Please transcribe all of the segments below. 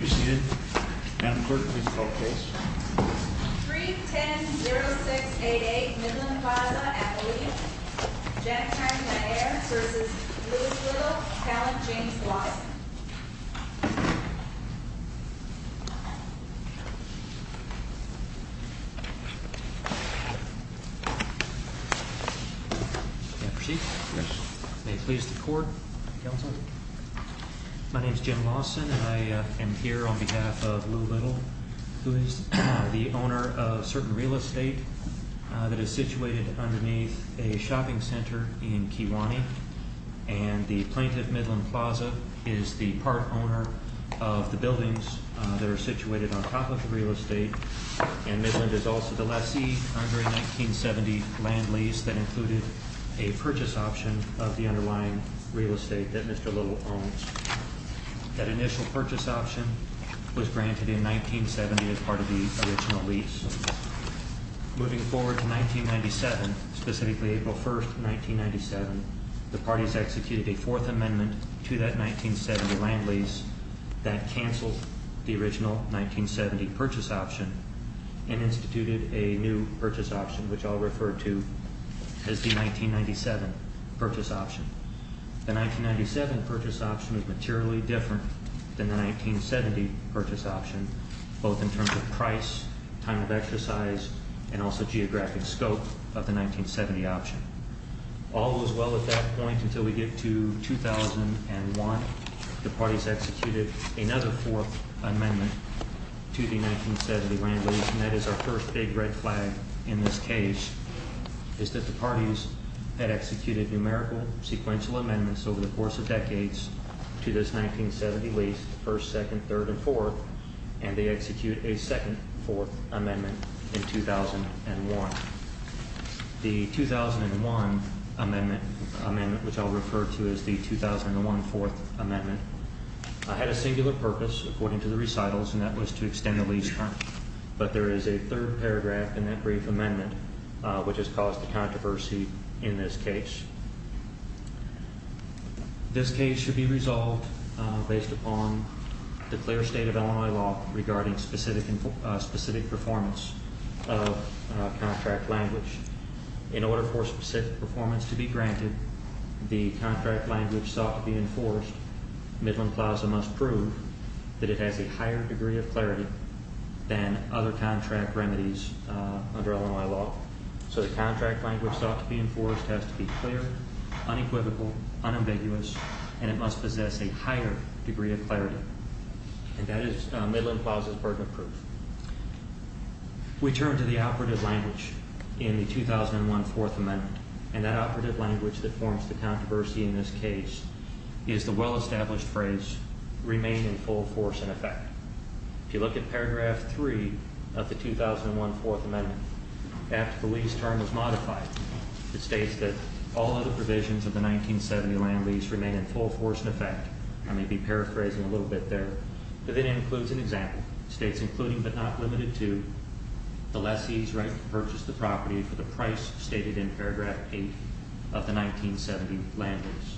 310-0688 Midland Plaza, Appalachia, Janet Times-Meyer v. Lewis Little, Callan James Lawson May I proceed? Yes. May it please the Court? Counsel? My name is Jim Lawson and I am here on behalf of Lewis Little, who is the owner of certain real estate that is situated underneath a shopping center in Keewanee. And the plaintiff, Midland Plaza, is the part owner of the buildings that are situated on top of the real estate. And Midland is also the lessee under a 1970 land lease that included a purchase option of the underlying real estate that Mr. Little owns. That initial purchase option was granted in 1970 as part of the original lease. Moving forward to 1997, specifically April 1, 1997, the parties executed a fourth amendment to that 1970 land lease that canceled the original 1970 purchase option and instituted a new purchase option, which I'll refer to as the 1997 purchase option. The 1997 purchase option is materially different than the 1970 purchase option, both in terms of price, time of exercise, and also geographic scope of the 1970 option. All was well at that point until we get to 2001. The parties executed another fourth amendment to the 1970 land lease, and that is our first big red flag in this case, is that the parties had executed numerical sequential amendments over the course of decades to this 1970 lease, first, second, third, and fourth, and they execute a second fourth amendment in 2001. The 2001 amendment, which I'll refer to as the 2001 fourth amendment, had a singular purpose, according to the recitals, and that was to extend the lease term. But there is a third paragraph in that brief amendment which has caused a controversy in this case. This case should be resolved based upon the clear state of Illinois law regarding specific performance of contract language. In order for specific performance to be granted, the contract language sought to be enforced, Midland Plaza must prove that it has a higher degree of clarity than other contract remedies under Illinois law. So the contract language sought to be enforced has to be clear, unequivocal, unambiguous, and it must possess a higher degree of clarity. And that is Midland Plaza's burden of proof. We turn to the operative language in the 2001 fourth amendment, and that operative language that forms the controversy in this case is the well-established phrase, remain in full force and effect. If you look at paragraph three of the 2001 fourth amendment, after the lease term was modified, it states that all other provisions of the 1970 land lease remain in full force and effect. I may be paraphrasing a little bit there, but it includes an example. It states including but not limited to the lessee's right to purchase the property for the price stated in paragraph eight of the 1970 land lease.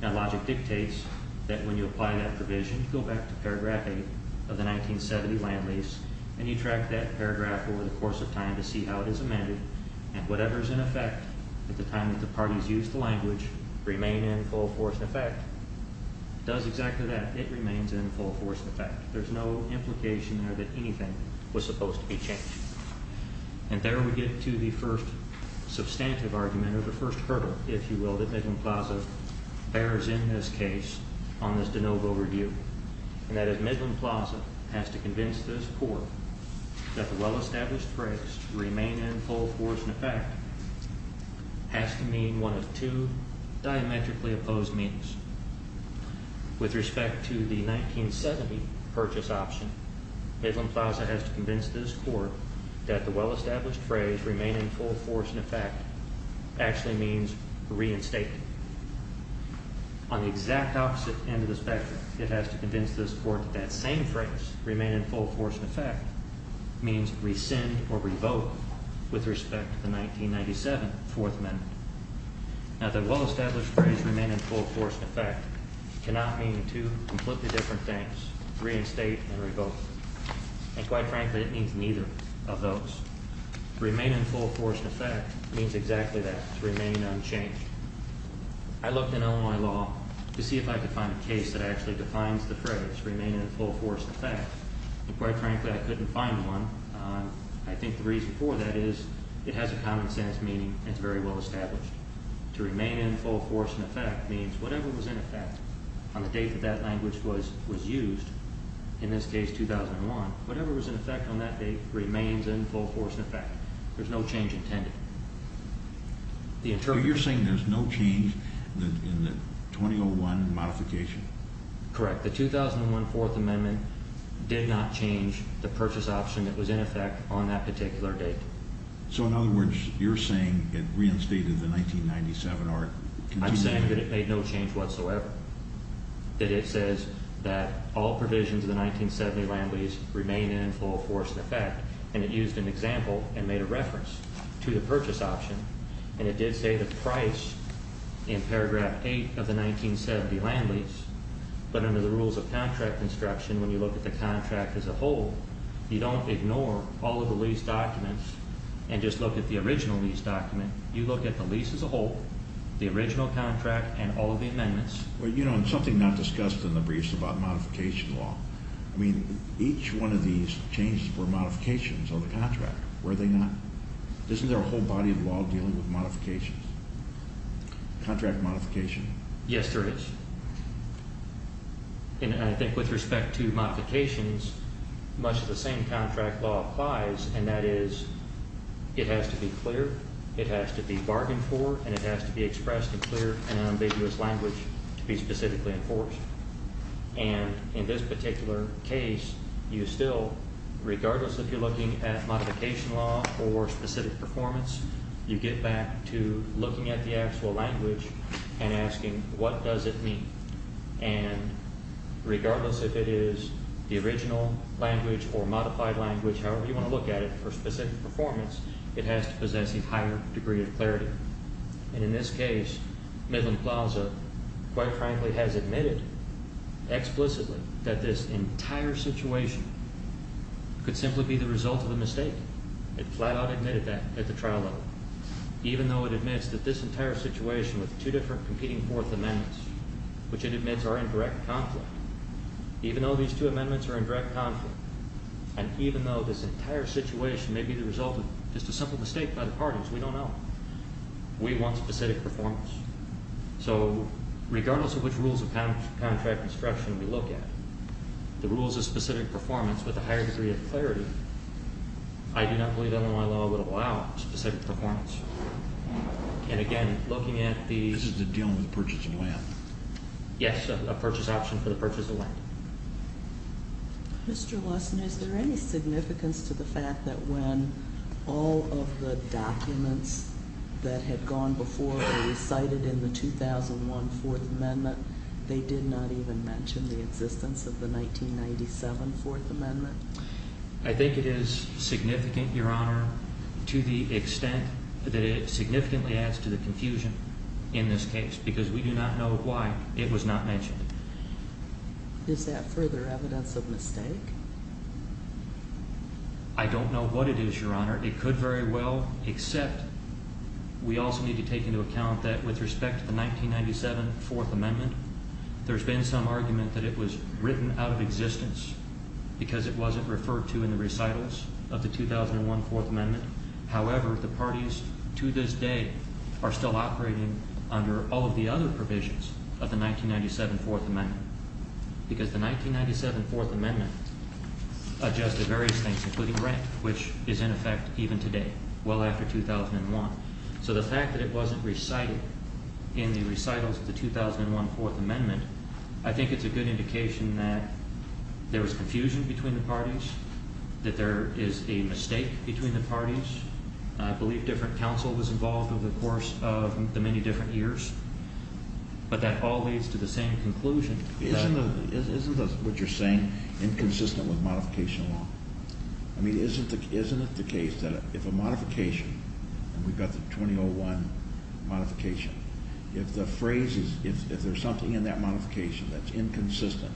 That logic dictates that when you apply that provision, you go back to paragraph eight of the 1970 land lease, and you track that paragraph over the course of time to see how it is amended, and whatever is in effect at the time that the parties used the language, remain in full force and effect, does exactly that. It remains in full force and effect. There's no implication there that anything was supposed to be changed. And there we get to the first substantive argument, or the first hurdle, if you will, that Midland Plaza bears in this case on this de novo review, and that is Midland Plaza has to convince this court that the well-established phrase, remain in full force and effect, has to mean one of two diametrically opposed meanings. With respect to the 1970 purchase option, Midland Plaza has to convince this court that the well-established phrase, remain in full force and effect, actually means reinstated. On the exact opposite end of the spectrum, it has to convince this court that that same phrase, remain in full force and effect, means rescind or revoke with respect to the 1997 Fourth Amendment. Now, the well-established phrase, remain in full force and effect, cannot mean two completely different things, reinstate and revoke. And quite frankly, it means neither of those. Remain in full force and effect means exactly that, to remain unchanged. I looked in Illinois law to see if I could find a case that actually defines the phrase, remain in full force and effect, and quite frankly, I couldn't find one. I think the reason for that is it has a common sense meaning it's very well established. To remain in full force and effect means whatever was in effect on the date that that language was used, in this case 2001, whatever was in effect on that date remains in full force and effect. There's no change intended. The interpretation... So you're saying there's no change in the 2001 modification? Correct. The 2001 Fourth Amendment did not change the purchase option that was in effect on that particular date. So in other words, you're saying it reinstated the 1997 or continued... I'm saying that it made no change whatsoever, that it says that all provisions of the 1970 land lease remain in full force and effect, and it used an example and made a reference to the purchase option, and it did say the price in paragraph 8 of the 1970 land lease, but under the rules of contract construction, when you look at the contract as a whole, you don't ignore all of the lease documents and just look at the original lease document. You look at the lease as a whole, the original contract, and all of the amendments. Well, you know, and something not discussed in the briefs about modification law, I mean, each one of these changes were modifications of the contract, were they not? Isn't there a whole body of law dealing with modifications, contract modification? Yes, there is. And I think with respect to modifications, much of the same contract law applies, and that is it has to be clear, it has to be bargained for, and it has to be expressed and clear in ambiguous language to be specifically enforced. And in this particular case, you still, regardless if you're looking at modification law for specific performance, you get back to looking at the actual language and asking, what does it mean? And regardless if it is the original language or modified language, however you want to look at it for specific performance, it has to possess a higher degree of clarity. And in this case, Midland Plaza, quite frankly, has admitted explicitly that this entire situation could simply be the result of a mistake. It flat-out admitted that at the trial level, even though it admits that this entire situation with two different competing Fourth Amendments, which it admits are in direct conflict, even though these two amendments are in direct conflict, and even though this entire situation may be the result of just a simple mistake by the parties, we don't know. We want specific performance. So regardless of which rules of contract construction we look at, the rules of specific performance with a higher degree of clarity, I do not believe Illinois law would allow specific performance. And again, looking at the... This is the deal with the purchase of land. Yes, a purchase option for the purchase of land. Mr. Lawson, is there any significance to the fact that when all of the documents that had gone before were recited in the 2001 Fourth Amendment, they did not even mention the existence of the 1997 Fourth Amendment? I think it is significant, Your Honor, to the extent that it significantly adds to the confusion in this case because we do not know why it was not mentioned. Is that further evidence of mistake? I don't know what it is, Your Honor. It could very well, except we also need to take into account that with respect to the 1997 Fourth Amendment, there's been some argument that it was written out of existence because it wasn't referred to in the recitals of the 2001 Fourth Amendment. However, the parties to this day are still operating under all of the other provisions of the 1997 Fourth Amendment because the 1997 Fourth Amendment adjusted various things, including rent, which is in effect even today, well after 2001. So the fact that it wasn't recited in the recitals of the 2001 Fourth Amendment, I think it's a good indication that there was confusion between the parties, that there is a mistake between the parties. I believe different counsel was involved over the course of the many different years, but that all leads to the same conclusion. Isn't what you're saying inconsistent with modification law? I mean, isn't it the case that if a modification, and we've got the 2001 modification, if the phrase is, if there's something in that modification that's inconsistent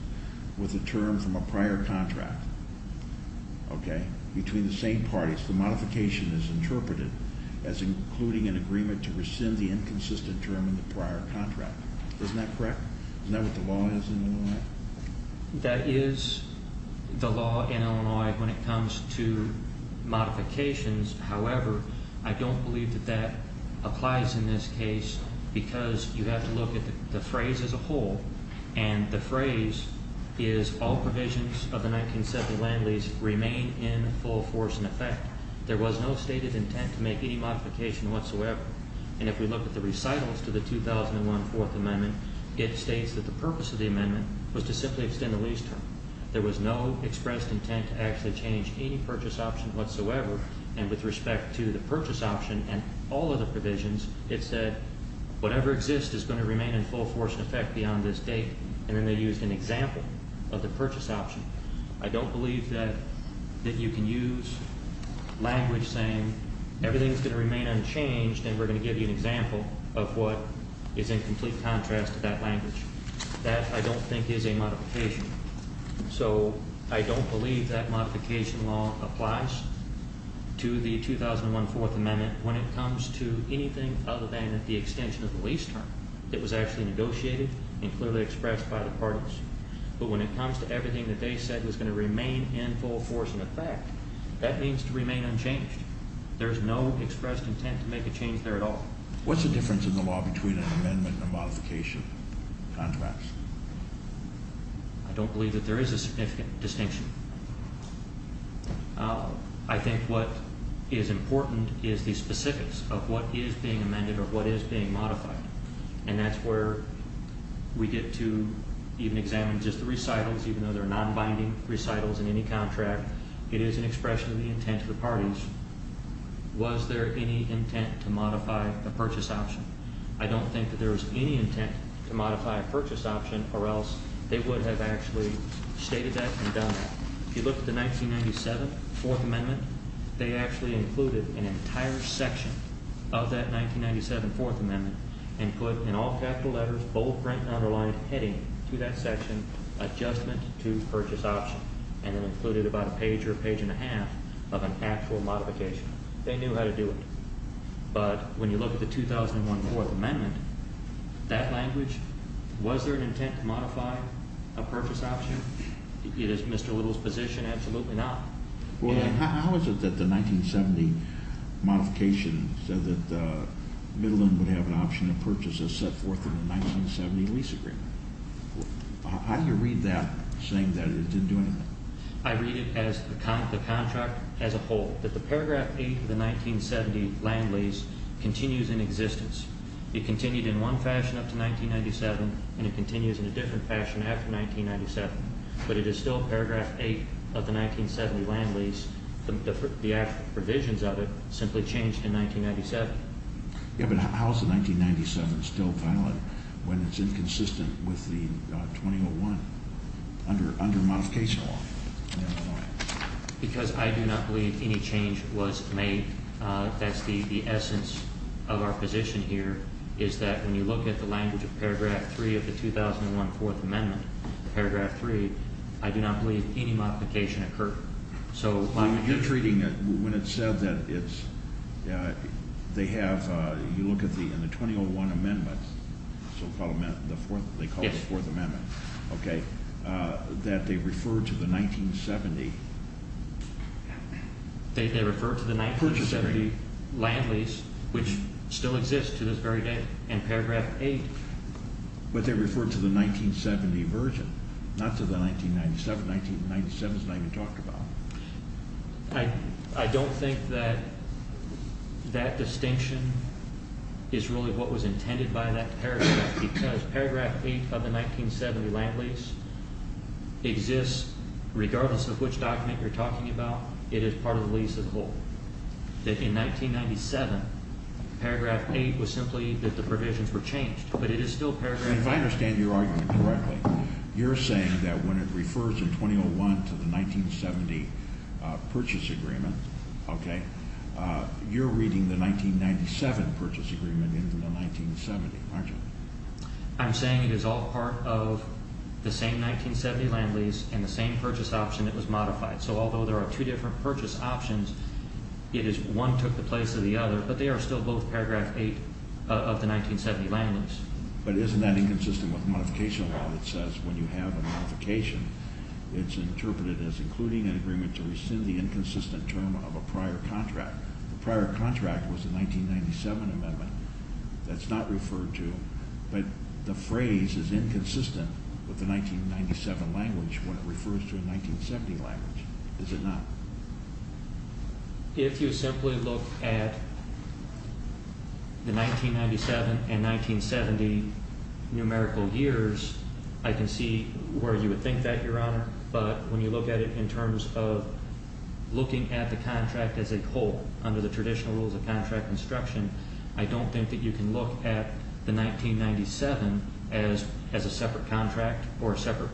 with a term from a prior contract, okay, between the same parties, the modification is interpreted as including an agreement to rescind the inconsistent term in the prior contract. Isn't that correct? Isn't that what the law is in Illinois? That is the law in Illinois when it comes to modifications. However, I don't believe that that applies in this case because you have to look at the phrase as a whole, and the phrase is all provisions of the 19th Century Land Lease remain in full force and effect. There was no stated intent to make any modification whatsoever. And if we look at the recitals to the 2001 Fourth Amendment, it states that the purpose of the amendment was to simply extend the lease term. There was no expressed intent to actually change any purchase option whatsoever, and with respect to the purchase option and all of the provisions, it said whatever exists is going to remain in full force and effect beyond this date, and then they used an example of the purchase option. I don't believe that you can use language saying everything is going to remain unchanged and we're going to give you an example of what is in complete contrast to that language. That I don't think is a modification. So I don't believe that modification law applies to the 2001 Fourth Amendment when it comes to anything other than the extension of the lease term that was actually negotiated and clearly expressed by the parties. But when it comes to everything that they said was going to remain in full force and effect, that means to remain unchanged. There's no expressed intent to make a change there at all. What's the difference in the law between an amendment and a modification contract? I don't believe that there is a significant distinction. I think what is important is the specifics of what is being amended or what is being modified, and that's where we get to even examine just the recitals, even though there are non-binding recitals in any contract. It is an expression of the intent of the parties. Was there any intent to modify the purchase option? I don't think that there was any intent to modify a purchase option or else they would have actually stated that and done that. If you look at the 1997 Fourth Amendment, they actually included an entire section of that 1997 Fourth Amendment and put in all capital letters, bold print and underlined heading to that section, adjustment to purchase option, and it included about a page or a page and a half of an actual modification. They knew how to do it. But when you look at the 2001 Fourth Amendment, that language, was there an intent to modify a purchase option? It is Mr. Little's position, absolutely not. How is it that the 1970 modification said that Middleton would have an option to purchase as set forth in the 1970 lease agreement? How do you read that, saying that it didn't do anything? I read it as the contract as a whole, that the paragraph 8 of the 1970 land lease continues in existence. It continued in one fashion up to 1997, and it continues in a different fashion after 1997. But it is still paragraph 8 of the 1970 land lease. The provisions of it simply changed in 1997. But how is the 1997 still valid when it's inconsistent with the 2001 under modification law? Because I do not believe any change was made. That's the essence of our position here, is that when you look at the language of paragraph 3 of the 2001 Fourth Amendment, paragraph 3, I do not believe any modification occurred. You're treating it, when it's said that it's, they have, you look at the, in the 2001 amendment, they call it the Fourth Amendment, okay, that they refer to the 1970. They refer to the 1970 land lease, which still exists to this very day, in paragraph 8. But they refer to the 1970 version, not to the 1997. 1997 is not even talked about. I don't think that that distinction is really what was intended by that paragraph, because paragraph 8 of the 1970 land lease exists, regardless of which document you're talking about, it is part of the lease as a whole. That in 1997, paragraph 8 was simply that the provisions were changed, but it is still paragraph 8. If I understand your argument correctly, you're saying that when it refers in 2001 to the 1970 purchase agreement, okay, you're reading the 1997 purchase agreement into the 1970, aren't you? I'm saying it is all part of the same 1970 land lease and the same purchase option that was modified. So although there are two different purchase options, it is one took the place of the other, but they are still both paragraph 8 of the 1970 land lease. But isn't that inconsistent with modification law that says when you have a modification, it's interpreted as including an agreement to rescind the inconsistent term of a prior contract. The prior contract was the 1997 amendment. That's not referred to. But the phrase is inconsistent with the 1997 language when it refers to a 1970 language, is it not? If you simply look at the 1997 and 1970 numerical years, I can see where you would think that, Your Honor, but when you look at it in terms of looking at the contract as a whole under the traditional rules of contract instruction, I don't think that you can look at the 1997 as a separate contract or a separate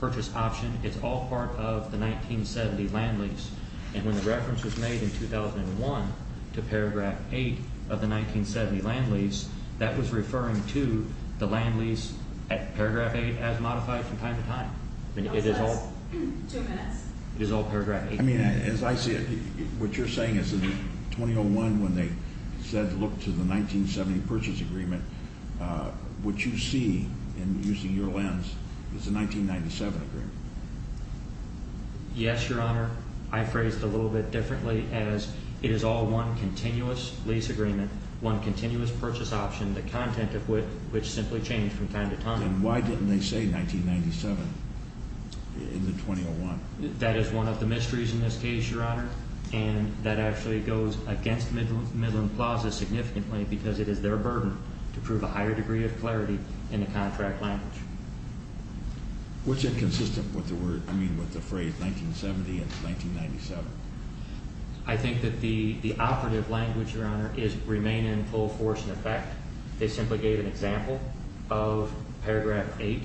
purchase option. It's all part of the 1970 land lease. And when the reference was made in 2001 to paragraph 8 of the 1970 land lease, that was referring to the land lease at paragraph 8 as modified from time to time. It is all paragraph 8. I mean, as I see it, what you're saying is that in 2001 when they said look to the 1970 purchase agreement, what you see in using your lens is the 1997 agreement. Yes, Your Honor. I phrased it a little bit differently as it is all one continuous lease agreement, one continuous purchase option, the content of which simply changed from time to time. Then why didn't they say 1997 in the 2001? That is one of the mysteries in this case, Your Honor, and that actually goes against Midland Plaza significantly because it is their burden to prove a higher degree of clarity in the contract language. What's inconsistent with the phrase 1970 and 1997? I think that the operative language, Your Honor, is remain in full force and effect. They simply gave an example of paragraph 8,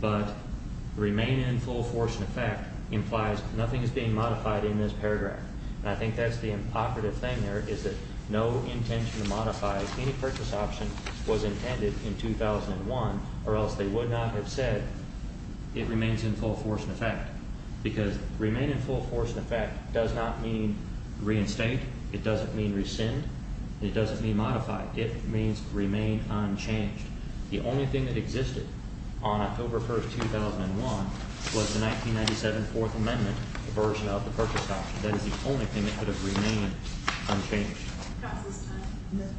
but remain in full force and effect implies nothing is being modified in this paragraph. And I think that's the operative thing there is that no intention to modify any purchase option was intended in 2001, or else they would not have said it remains in full force and effect because remain in full force and effect does not mean reinstate, it doesn't mean rescind, it doesn't mean modify. It means remain unchanged. The only thing that existed on October 1, 2001, was the 1997 Fourth Amendment version of the purchase option. That is the only thing that could have remained unchanged.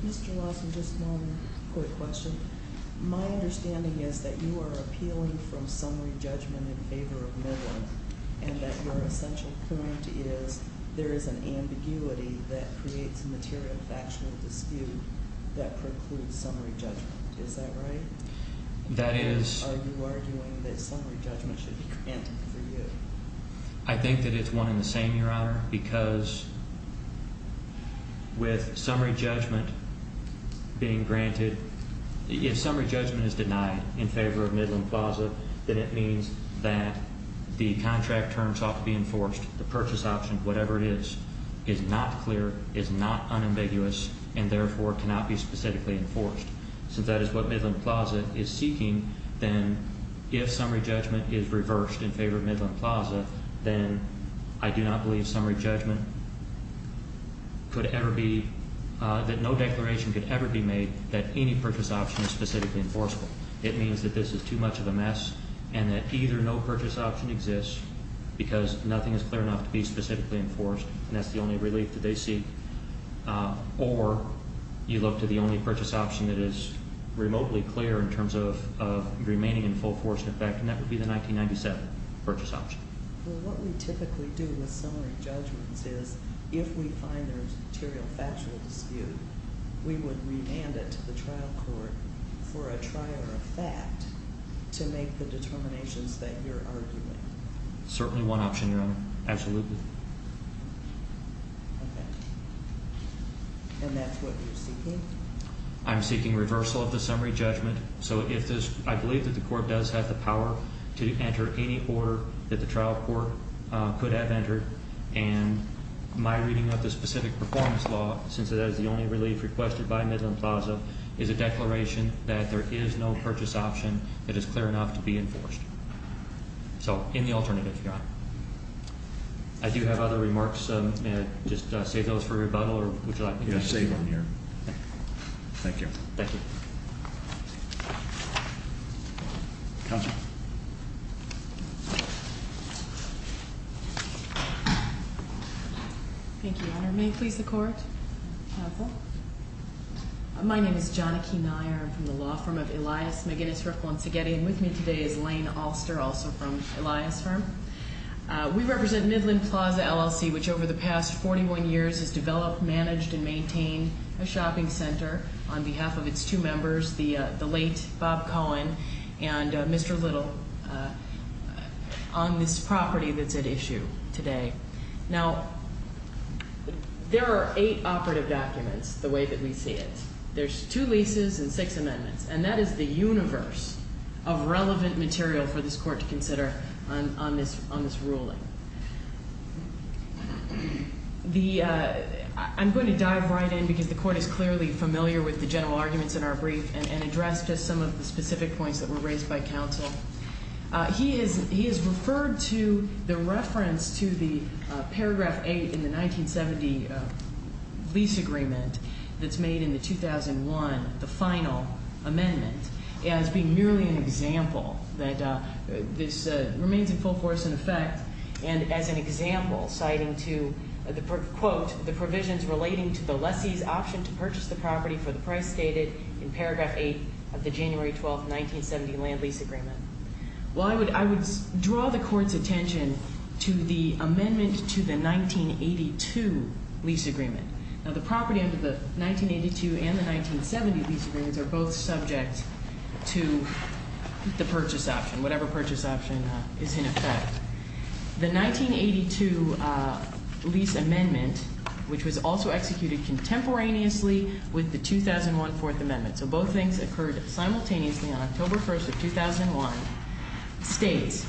Mr. Lawson, just one quick question. My understanding is that you are appealing from summary judgment in favor of Midland and that your essential point is there is an ambiguity that creates a material factional dispute that precludes summary judgment. Is that right? Are you arguing that summary judgment should be granted for you? I think that it's one and the same, Your Honor, because with summary judgment being granted, if summary judgment is denied in favor of Midland Plaza, then it means that the contract terms ought to be enforced, the purchase option, whatever it is, is not clear, is not unambiguous, and therefore cannot be specifically enforced. Since that is what Midland Plaza is seeking, then if summary judgment is reversed in favor of Midland Plaza, then I do not believe that no declaration could ever be made that any purchase option is specifically enforceable. It means that this is too much of a mess and that either no purchase option exists because nothing is clear enough to be specifically enforced, and that's the only relief that they seek, or you look to the only purchase option that is remotely clear in terms of remaining in full force and effect, and that would be the 1997 purchase option. Well, what we typically do with summary judgments is if we find there is a material factual dispute, we would remand it to the trial court for a trial or a fact to make the determinations that you're arguing. Certainly one option, Your Honor. Absolutely. Okay. And that's what you're seeking? I'm seeking reversal of the summary judgment. So I believe that the court does have the power to enter any order that the trial court could have entered, and my reading of the specific performance law, since that is the only relief requested by Midland Plaza, is a declaration that there is no purchase option that is clear enough to be enforced. So in the alternative, Your Honor. I do have other remarks. May I just save those for rebuttal, or would you like me to save them? Thank you. Thank you. Counsel? Thank you, Your Honor. May it please the Court? Counsel? My name is Johnnie Keeneyer. I'm from the law firm of Elias, McGinnis, Riffel, and Szigeti, and with me today is Lane Alster, also from Elias' firm. We represent Midland Plaza, LLC, which over the past 41 years has developed, managed, and maintained a shopping center on behalf of its two members, the late Bob Cohen and Mr. Little, on this property that's at issue today. Now, there are eight operative documents the way that we see it. There's two leases and six amendments, and that is the universe of relevant material for this Court to consider on this ruling. I'm going to dive right in because the Court is clearly familiar with the general arguments in our brief and address just some of the specific points that were raised by counsel. He has referred to the reference to the paragraph 8 in the 1970 lease agreement that's made in the 2001, the final amendment, as being merely an example that this remains in full force in effect and as an example citing to, quote, the provisions relating to the lessee's option to purchase the property for the price stated in paragraph 8 of the January 12, 1970 land lease agreement. Well, I would draw the Court's attention to the amendment to the 1982 lease agreement. Now, the property under the 1982 and the 1970 lease agreements are both subject to the purchase option, whatever purchase option is in effect. The 1982 lease amendment, which was also executed contemporaneously with the 2001 Fourth Amendment, so both things occurred simultaneously on October 1st of 2001, states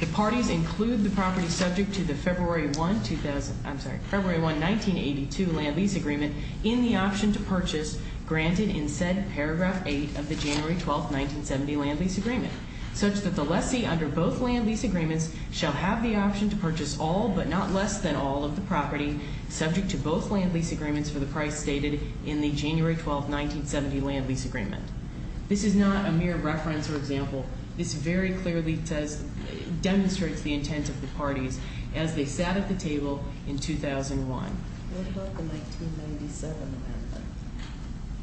the parties include the property subject to the February 1, 2000, I'm sorry, February 1, 1982 land lease agreement in the option to purchase granted in said paragraph 8 of the January 12, 1970 land lease agreement, such that the lessee under both land lease agreements shall have the option to purchase all but not less than all of the property subject to both land lease agreements for the price stated in the January 12, 1970 land lease agreement. This is not a mere reference or example. This very clearly says, demonstrates the intent of the parties as they sat at the table in 2001. What about the 1997 amendment?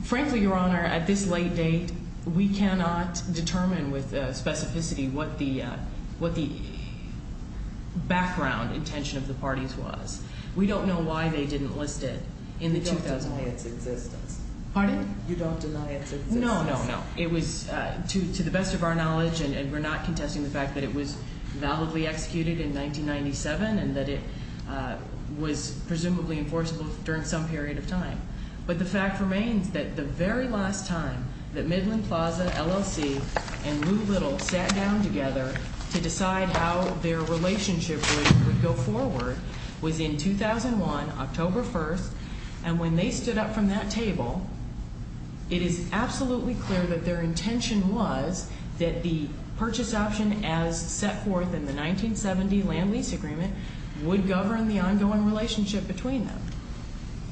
Frankly, Your Honor, at this late date, we cannot determine with specificity what the background intention of the parties was. We don't know why they didn't list it in the 2001. You don't deny its existence. Pardon? You don't deny its existence. No, no, no. It was, to the best of our knowledge, and we're not contesting the fact that it was validly executed in 1997, and that it was presumably enforceable during some period of time. But the fact remains that the very last time that Midland Plaza, LLC, and Lou Little sat down together to decide how their relationship would go forward was in 2001, October 1st. And when they stood up from that table, it is absolutely clear that their intention was that the purchase option as set forth in the 1970 land lease agreement would govern the ongoing relationship between them.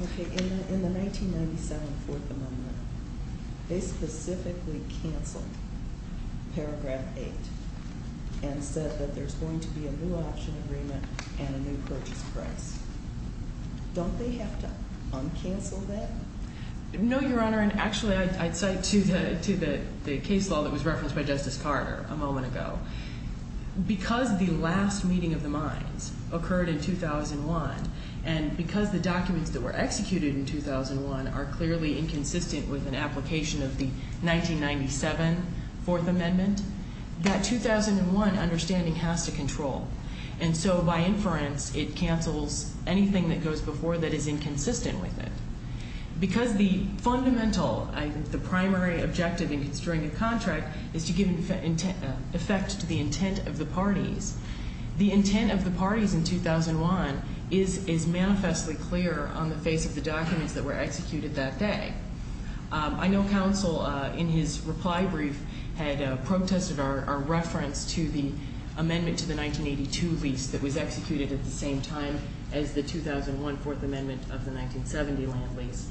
Okay. In the 1997 Fourth Amendment, they specifically canceled paragraph 8 and said that there's going to be a new option agreement and a new purchase price. Don't they have to uncancel that? No, Your Honor, and actually I'd cite to the case law that was referenced by Justice Carter a moment ago. Because the last meeting of the minds occurred in 2001, and because the documents that were executed in 2001 are clearly inconsistent with an application of the 1997 Fourth Amendment, that 2001 understanding has to control. And so by inference, it cancels anything that goes before that is inconsistent with it. Because the fundamental, the primary objective in constructing a contract is to give effect to the intent of the parties, the intent of the parties in 2001 is manifestly clear on the face of the documents that were executed that day. I know Counsel, in his reply brief, had protested our reference to the amendment to the 1982 lease that was executed at the same time as the 2001 Fourth Amendment of the 1970 land lease,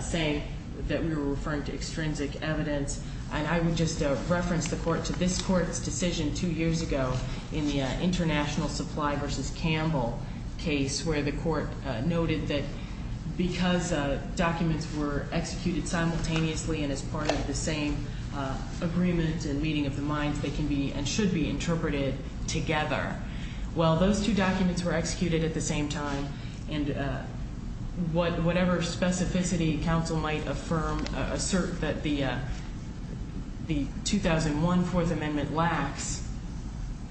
saying that we were referring to extrinsic evidence. And I would just reference the Court to this Court's decision two years ago in the International Supply v. Campbell case, where the Court noted that because documents were executed simultaneously and as part of the same agreement and meeting of the minds, they can be and should be interpreted together. Well, those two documents were executed at the same time, and whatever specificity Counsel might affirm, assert that the 2001 Fourth Amendment lacks,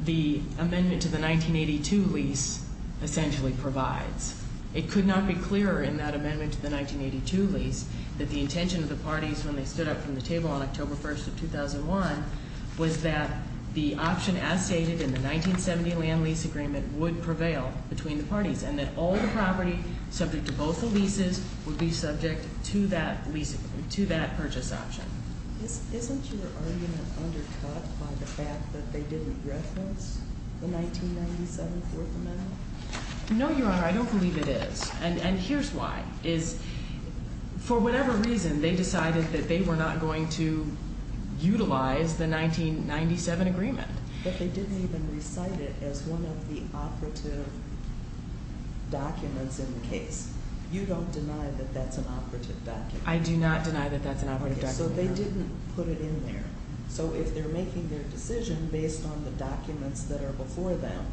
the amendment to the 1982 lease essentially provides. It could not be clearer in that amendment to the 1982 lease that the intention of the parties, when they stood up from the table on October 1st of 2001, was that the option as stated in the 1970 land lease agreement would prevail between the parties, and that all the property subject to both the leases would be subject to that purchase option. Isn't your argument undercut by the fact that they didn't reference the 1997 Fourth Amendment? No, Your Honor, I don't believe it is, and here's why. For whatever reason, they decided that they were not going to utilize the 1997 agreement. But they didn't even recite it as one of the operative documents in the case. You don't deny that that's an operative document? I do not deny that that's an operative document. So they didn't put it in there. So if they're making their decision based on the documents that are before them,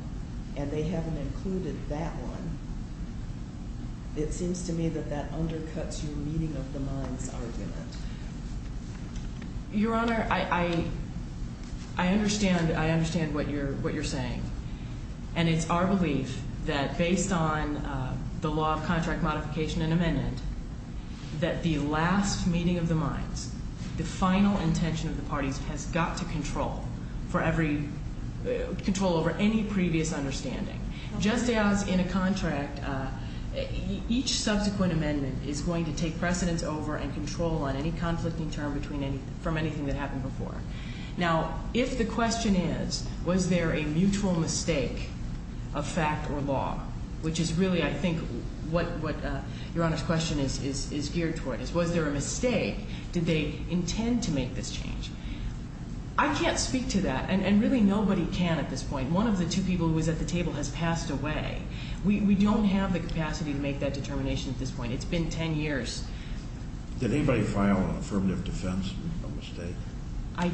and they haven't included that one, it seems to me that that undercuts your meeting of the minds argument. Your Honor, I understand what you're saying, and it's our belief that based on the law of contract modification and amendment, that the last meeting of the minds, the final intention of the parties, has got to control over any previous understanding. Just as in a contract, each subsequent amendment is going to take precedence over and control on any conflicting term from anything that happened before. Now, if the question is, was there a mutual mistake of fact or law, which is really, I think, what Your Honor's question is geared toward, is was there a mistake? Did they intend to make this change? I can't speak to that, and really nobody can at this point. One of the two people who was at the table has passed away. We don't have the capacity to make that determination at this point. It's been 10 years. Did anybody file an affirmative defense mistake? I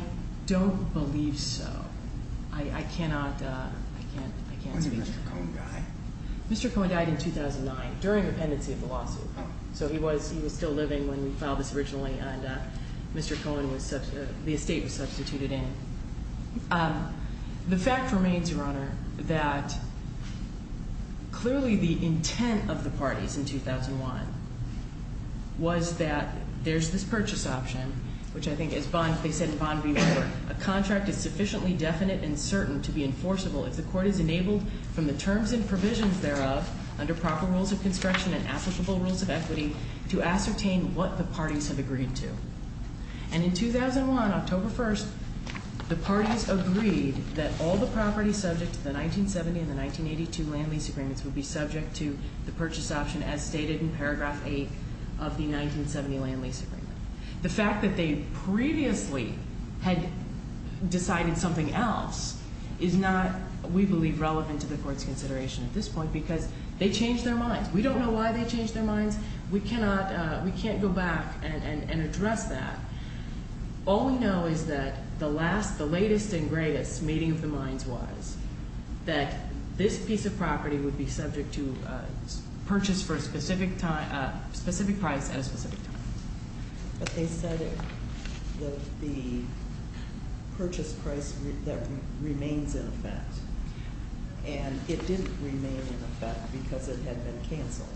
don't believe so. I cannot speak to that. Mr. Cohen died in 2009 during the pendency of the lawsuit. So he was still living when we filed this originally, and Mr. Cohen, the estate was substituted in. The fact remains, Your Honor, that clearly the intent of the parties in 2001 was that there's this purchase option, which I think, as they said in Bond v. War, a contract is sufficiently definite and certain to be enforceable if the court is enabled from the terms and provisions thereof under proper rules of construction and applicable rules of equity to ascertain what the parties have agreed to. And in 2001, October 1st, the parties agreed that all the property subject to the 1970 and the 1982 land lease agreements would be subject to the purchase option as stated in paragraph 8 of the 1970 land lease agreement. The fact that they previously had decided something else is not, we believe, relevant to the court's consideration at this point because they changed their minds. We don't know why they changed their minds. We cannot go back and address that. All we know is that the latest and greatest meeting of the minds was that this piece of property would be subject to purchase for a specific price at a specific time. But they said that the purchase price remains in effect, and it didn't remain in effect because it had been canceled.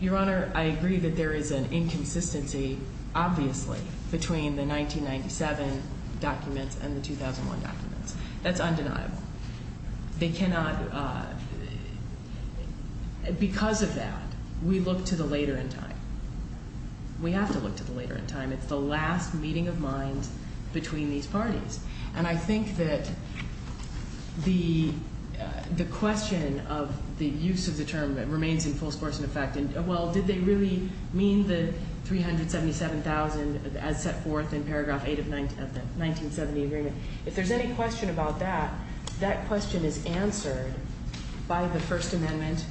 Your Honor, I agree that there is an inconsistency, obviously, between the 1997 documents and the 2001 documents. That's undeniable. They cannot, because of that, we look to the later in time. We have to look to the later in time. It's the last meeting of minds between these parties. And I think that the question of the use of the term remains in full sports and effect. Well, did they really mean the $377,000 as set forth in paragraph 8 of the 1970 agreement? If there's any question about that, that question is answered by the First Amendment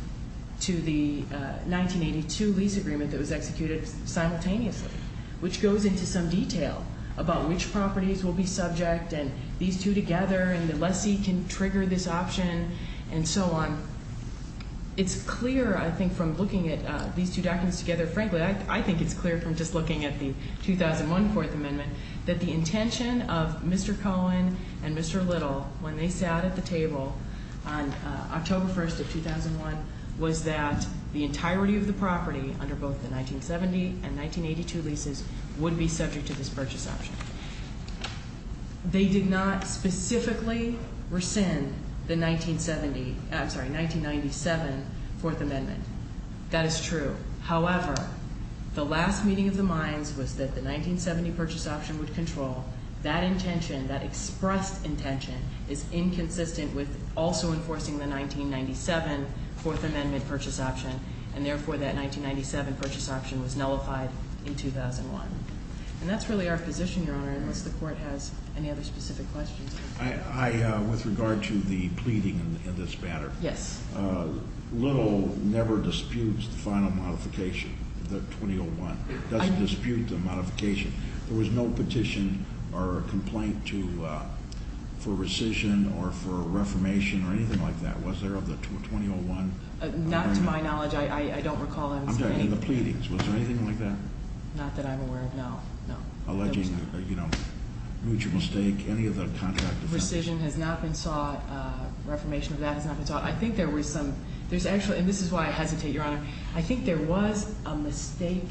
to the 1982 lease agreement that was executed simultaneously, which goes into some detail about which properties will be subject, and these two together, and the lessee can trigger this option, and so on. It's clear, I think, from looking at these two documents together, frankly, I think it's clear from just looking at the 2001 Fourth Amendment, that the intention of Mr. Cohen and Mr. Little when they sat at the table on October 1st of 2001 was that the entirety of the property under both the 1970 and 1982 leases would be subject to this purchase option. They did not specifically rescind the 1970, I'm sorry, 1997 Fourth Amendment. That is true. However, the last meeting of the minds was that the 1970 purchase option would control. That intention, that expressed intention, is inconsistent with also enforcing the 1997 Fourth Amendment purchase option, and therefore that 1997 purchase option was nullified in 2001. And that's really our position, Your Honor, unless the Court has any other specific questions. With regard to the pleading in this matter, Yes. Little never disputes the final modification, the 2001. He doesn't dispute the modification. There was no petition or complaint for rescission or for a reformation or anything like that, was there, of the 2001? Not to my knowledge. I don't recall. I'm talking about the pleadings. Was there anything like that? Not that I'm aware of, no. Alleging mutual mistake, any of the contract offenses? Rescission has not been sought. Reformation of that has not been sought. I think there were some. There's actually, and this is why I hesitate, Your Honor, I think there was a mistake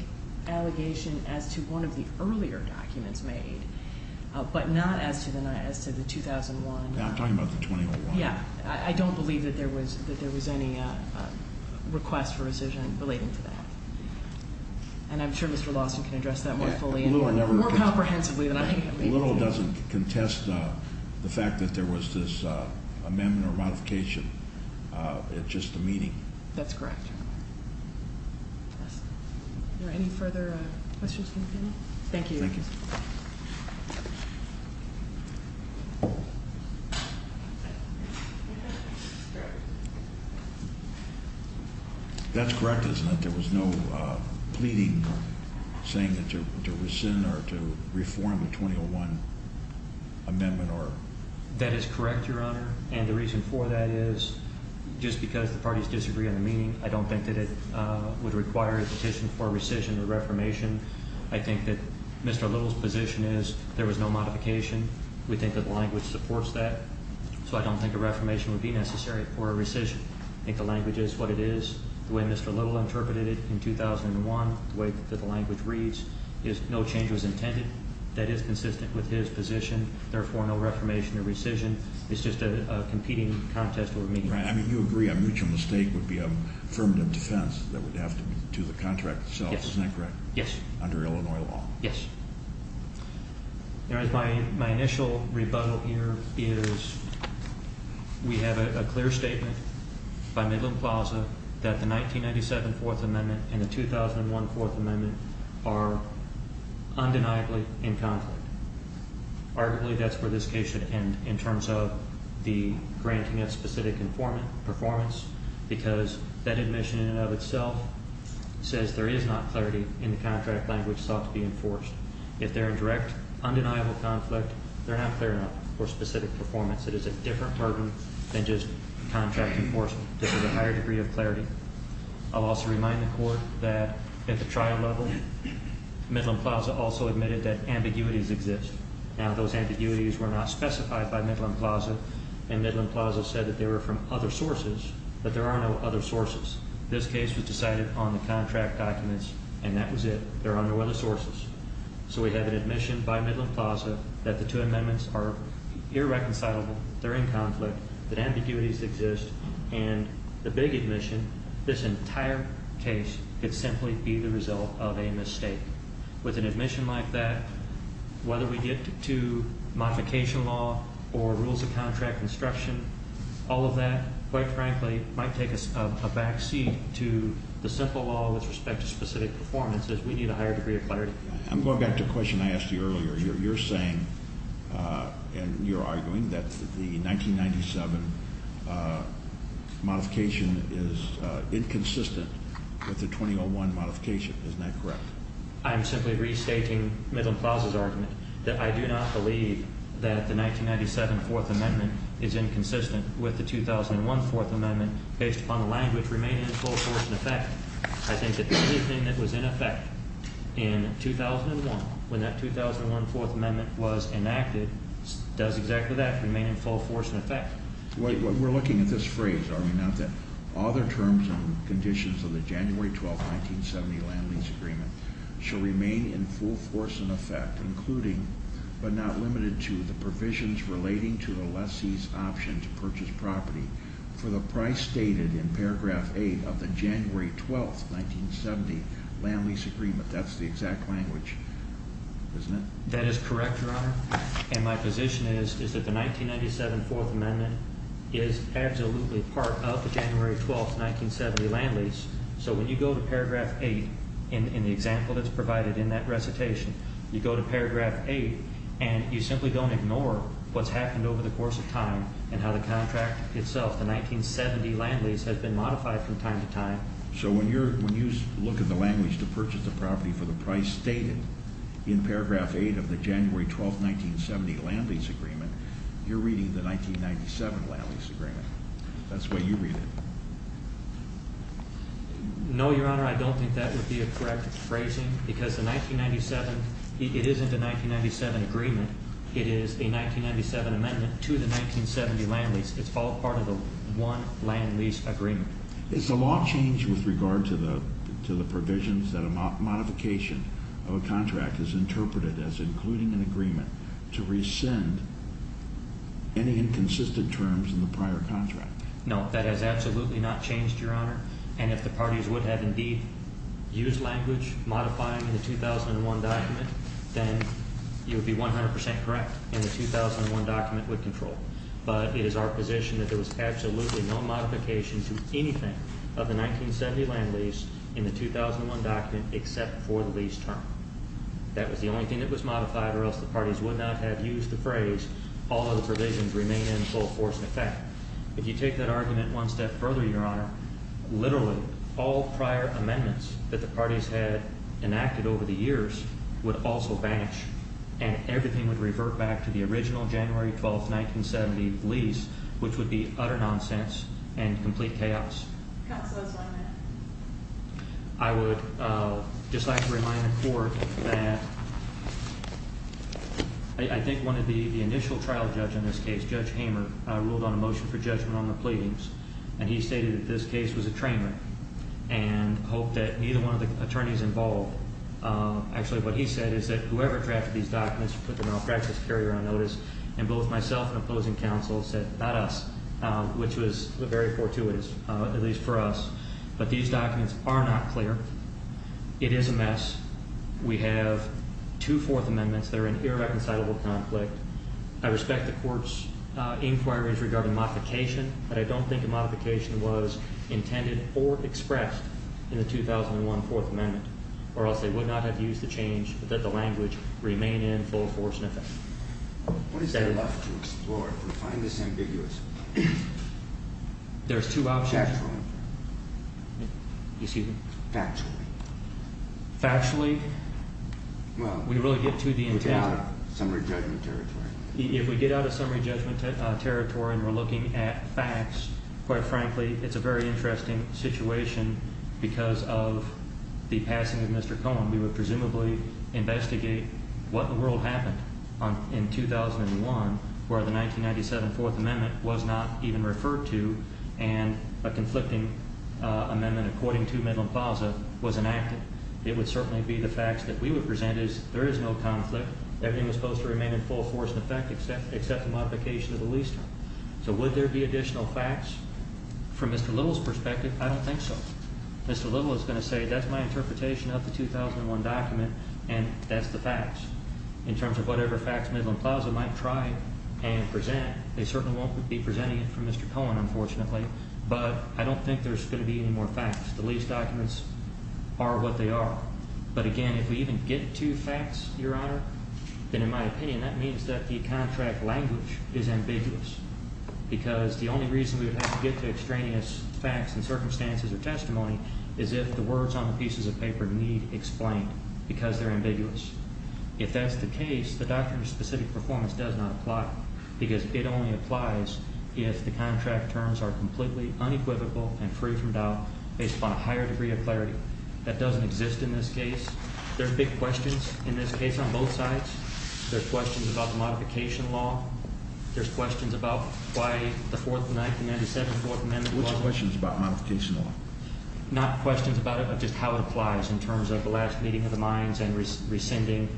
allegation as to one of the earlier documents made, but not as to the 2001. I'm talking about the 2001. Yeah. I don't believe that there was any request for rescission relating to that. And I'm sure Mr. Lawson can address that more fully and more comprehensively than I can. Little doesn't contest the fact that there was this amendment or modification at just the meeting. That's correct. Are there any further questions from the panel? Thank you. Thank you. That's correct, isn't it? There was no pleading or saying that to rescind or to reform the 2001 amendment or. That is correct, Your Honor. And the reason for that is just because the parties disagree on the meeting, I don't think that it would require a petition for rescission or reformation. I think that Mr. Little's position is there was no modification. We think that the language supports that. So I don't think a reformation would be necessary for a rescission. I think the language is what it is. The way Mr. Little interpreted it in 2001, the way that the language reads, is no change was intended. That is consistent with his position. Therefore, no reformation or rescission. It's just a competing contest over meeting. Right. I mean, you agree a mutual mistake would be a affirmative defense that would have to be to the contract itself. Isn't that correct? Yes. Under Illinois law. Yes. Your Honor, my initial rebuttal here is we have a clear statement by Midland Plaza that the 1997 Fourth Amendment and the 2001 Fourth Amendment are undeniably in conflict. Arguably, that's where this case should end in terms of the granting of specific performance because that admission in and of itself says there is not clarity in the contract language sought to be enforced. If they're a direct, undeniable conflict, they're not clear enough for specific performance. It is a different burden than just contract enforcement. This is a higher degree of clarity. I'll also remind the Court that at the trial level, Midland Plaza also admitted that ambiguities exist. Now, those ambiguities were not specified by Midland Plaza, and Midland Plaza said that they were from other sources, but there are no other sources. This case was decided on the contract documents, and that was it. There are no other sources. So we have an admission by Midland Plaza that the two amendments are irreconcilable, they're in conflict, that ambiguities exist, and the big admission, this entire case could simply be the result of a mistake. With an admission like that, whether we get to modification law or rules of contract construction, all of that, quite frankly, might take us a back seat to the simple law with respect to specific performance, as we need a higher degree of clarity. I'm going back to a question I asked you earlier. You're saying and you're arguing that the 1997 modification is inconsistent with the 2001 modification. Isn't that correct? I'm simply restating Midland Plaza's argument that I do not believe that the 1997 Fourth Amendment is inconsistent with the 2001 Fourth Amendment based upon the language remaining in full force and effect. I think that the only thing that was in effect in 2001, when that 2001 Fourth Amendment was enacted, does exactly that, remain in full force and effect. We're looking at this phrase, are we not, that all the terms and conditions of the January 12, 1970 land lease agreement shall remain in full force and effect, including, but not limited to, the provisions relating to the lessee's option to purchase property for the price stated in paragraph 8 of the January 12, 1970 land lease agreement. That's the exact language, isn't it? That is correct, Your Honor, and my position is that the 1997 Fourth Amendment is absolutely part of the January 12, 1970 land lease. So when you go to paragraph 8 in the example that's provided in that recitation, you go to paragraph 8 and you simply don't ignore what's happened over the course of time and how the contract itself, the 1970 land lease, has been modified from time to time. So when you look at the language to purchase the property for the price stated in paragraph 8 of the January 12, 1970 land lease agreement, you're reading the 1997 land lease agreement. That's the way you read it. No, Your Honor, I don't think that would be a correct phrasing because the 1997, it isn't a 1997 agreement. It is a 1997 amendment to the 1970 land lease. It's all part of the one land lease agreement. Is the law changed with regard to the provisions that a modification of a contract is interpreted as including an agreement to rescind any inconsistent terms in the prior contract? No, that has absolutely not changed, Your Honor, and if the parties would have indeed used language modifying the 2001 document, then you would be 100% correct and the 2001 document would control. But it is our position that there was absolutely no modification to anything of the 1970 land lease in the 2001 document except for the lease term. That was the only thing that was modified or else the parties would not have used the phrase, If you take that argument one step further, Your Honor, literally all prior amendments that the parties had enacted over the years would also vanish and everything would revert back to the original January 12, 1970 lease, which would be utter nonsense and complete chaos. Counsel, explain that. I would just like to remind the court that I think one of the initial trial judge in this case, Judge Hamer, ruled on a motion for judgment on the pleadings, and he stated that this case was a train wreck and hoped that neither one of the attorneys involved, actually what he said is that whoever drafted these documents should put the malpractice carrier on notice, and both myself and opposing counsel said not us, which was very fortuitous, at least for us. But these documents are not clear. It is a mess. We have two Fourth Amendments that are in irreconcilable conflict. I respect the court's inquiries regarding modification, but I don't think a modification was intended or expressed in the 2001 Fourth Amendment or else they would not have used the change but that the language remain in full force and effect. What is there left to explore if we find this ambiguous? There's two options. Factually. Excuse me? Factually. Factually, we really get to the intent. We get out of summary judgment territory. If we get out of summary judgment territory and we're looking at facts, quite frankly, it's a very interesting situation because of the passing of Mr. Cohen. We would presumably investigate what in the world happened in 2001 where the 1997 Fourth Amendment was not even referred to and a conflicting amendment according to Midland-Falsa was enacted. It would certainly be the facts that we would present as there is no conflict. Everything was supposed to remain in full force and effect except the modification of the lease term. So would there be additional facts? From Mr. Little's perspective, I don't think so. Mr. Little is going to say that's my interpretation of the 2001 document and that's the facts. In terms of whatever facts Midland-Falsa might try and present, they certainly won't be presenting it for Mr. Cohen, unfortunately, but I don't think there's going to be any more facts. The lease documents are what they are. But, again, if we even get to facts, Your Honor, then in my opinion that means that the contract language is ambiguous because the only reason we would have to get to extraneous facts and circumstances or testimony is if the words on the pieces of paper need explained because they're ambiguous. If that's the case, the doctrine of specific performance does not apply because it only applies if the contract terms are completely unequivocal and free from doubt based upon a higher degree of clarity. That doesn't exist in this case. There are big questions in this case on both sides. There are questions about the modification law. There are questions about why the Fourth of Nineteen Ninety-Seven Fourth Amendment was— Which questions about modification law? Not questions about it, but just how it applies in terms of the last meeting of the minds and rescinding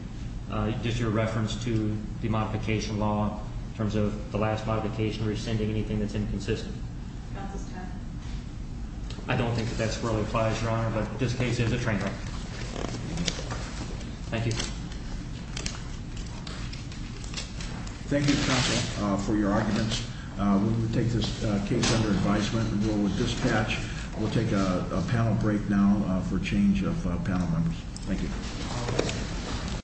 just your reference to the modification law in terms of the last modification rescinding anything that's inconsistent. Counsel's time. I don't think that that really applies, Your Honor, but this case is a train wreck. Thank you. Thank you, Counsel, for your arguments. We will take this case under advisement and go with dispatch. We'll take a panel break now for change of panel members. Thank you.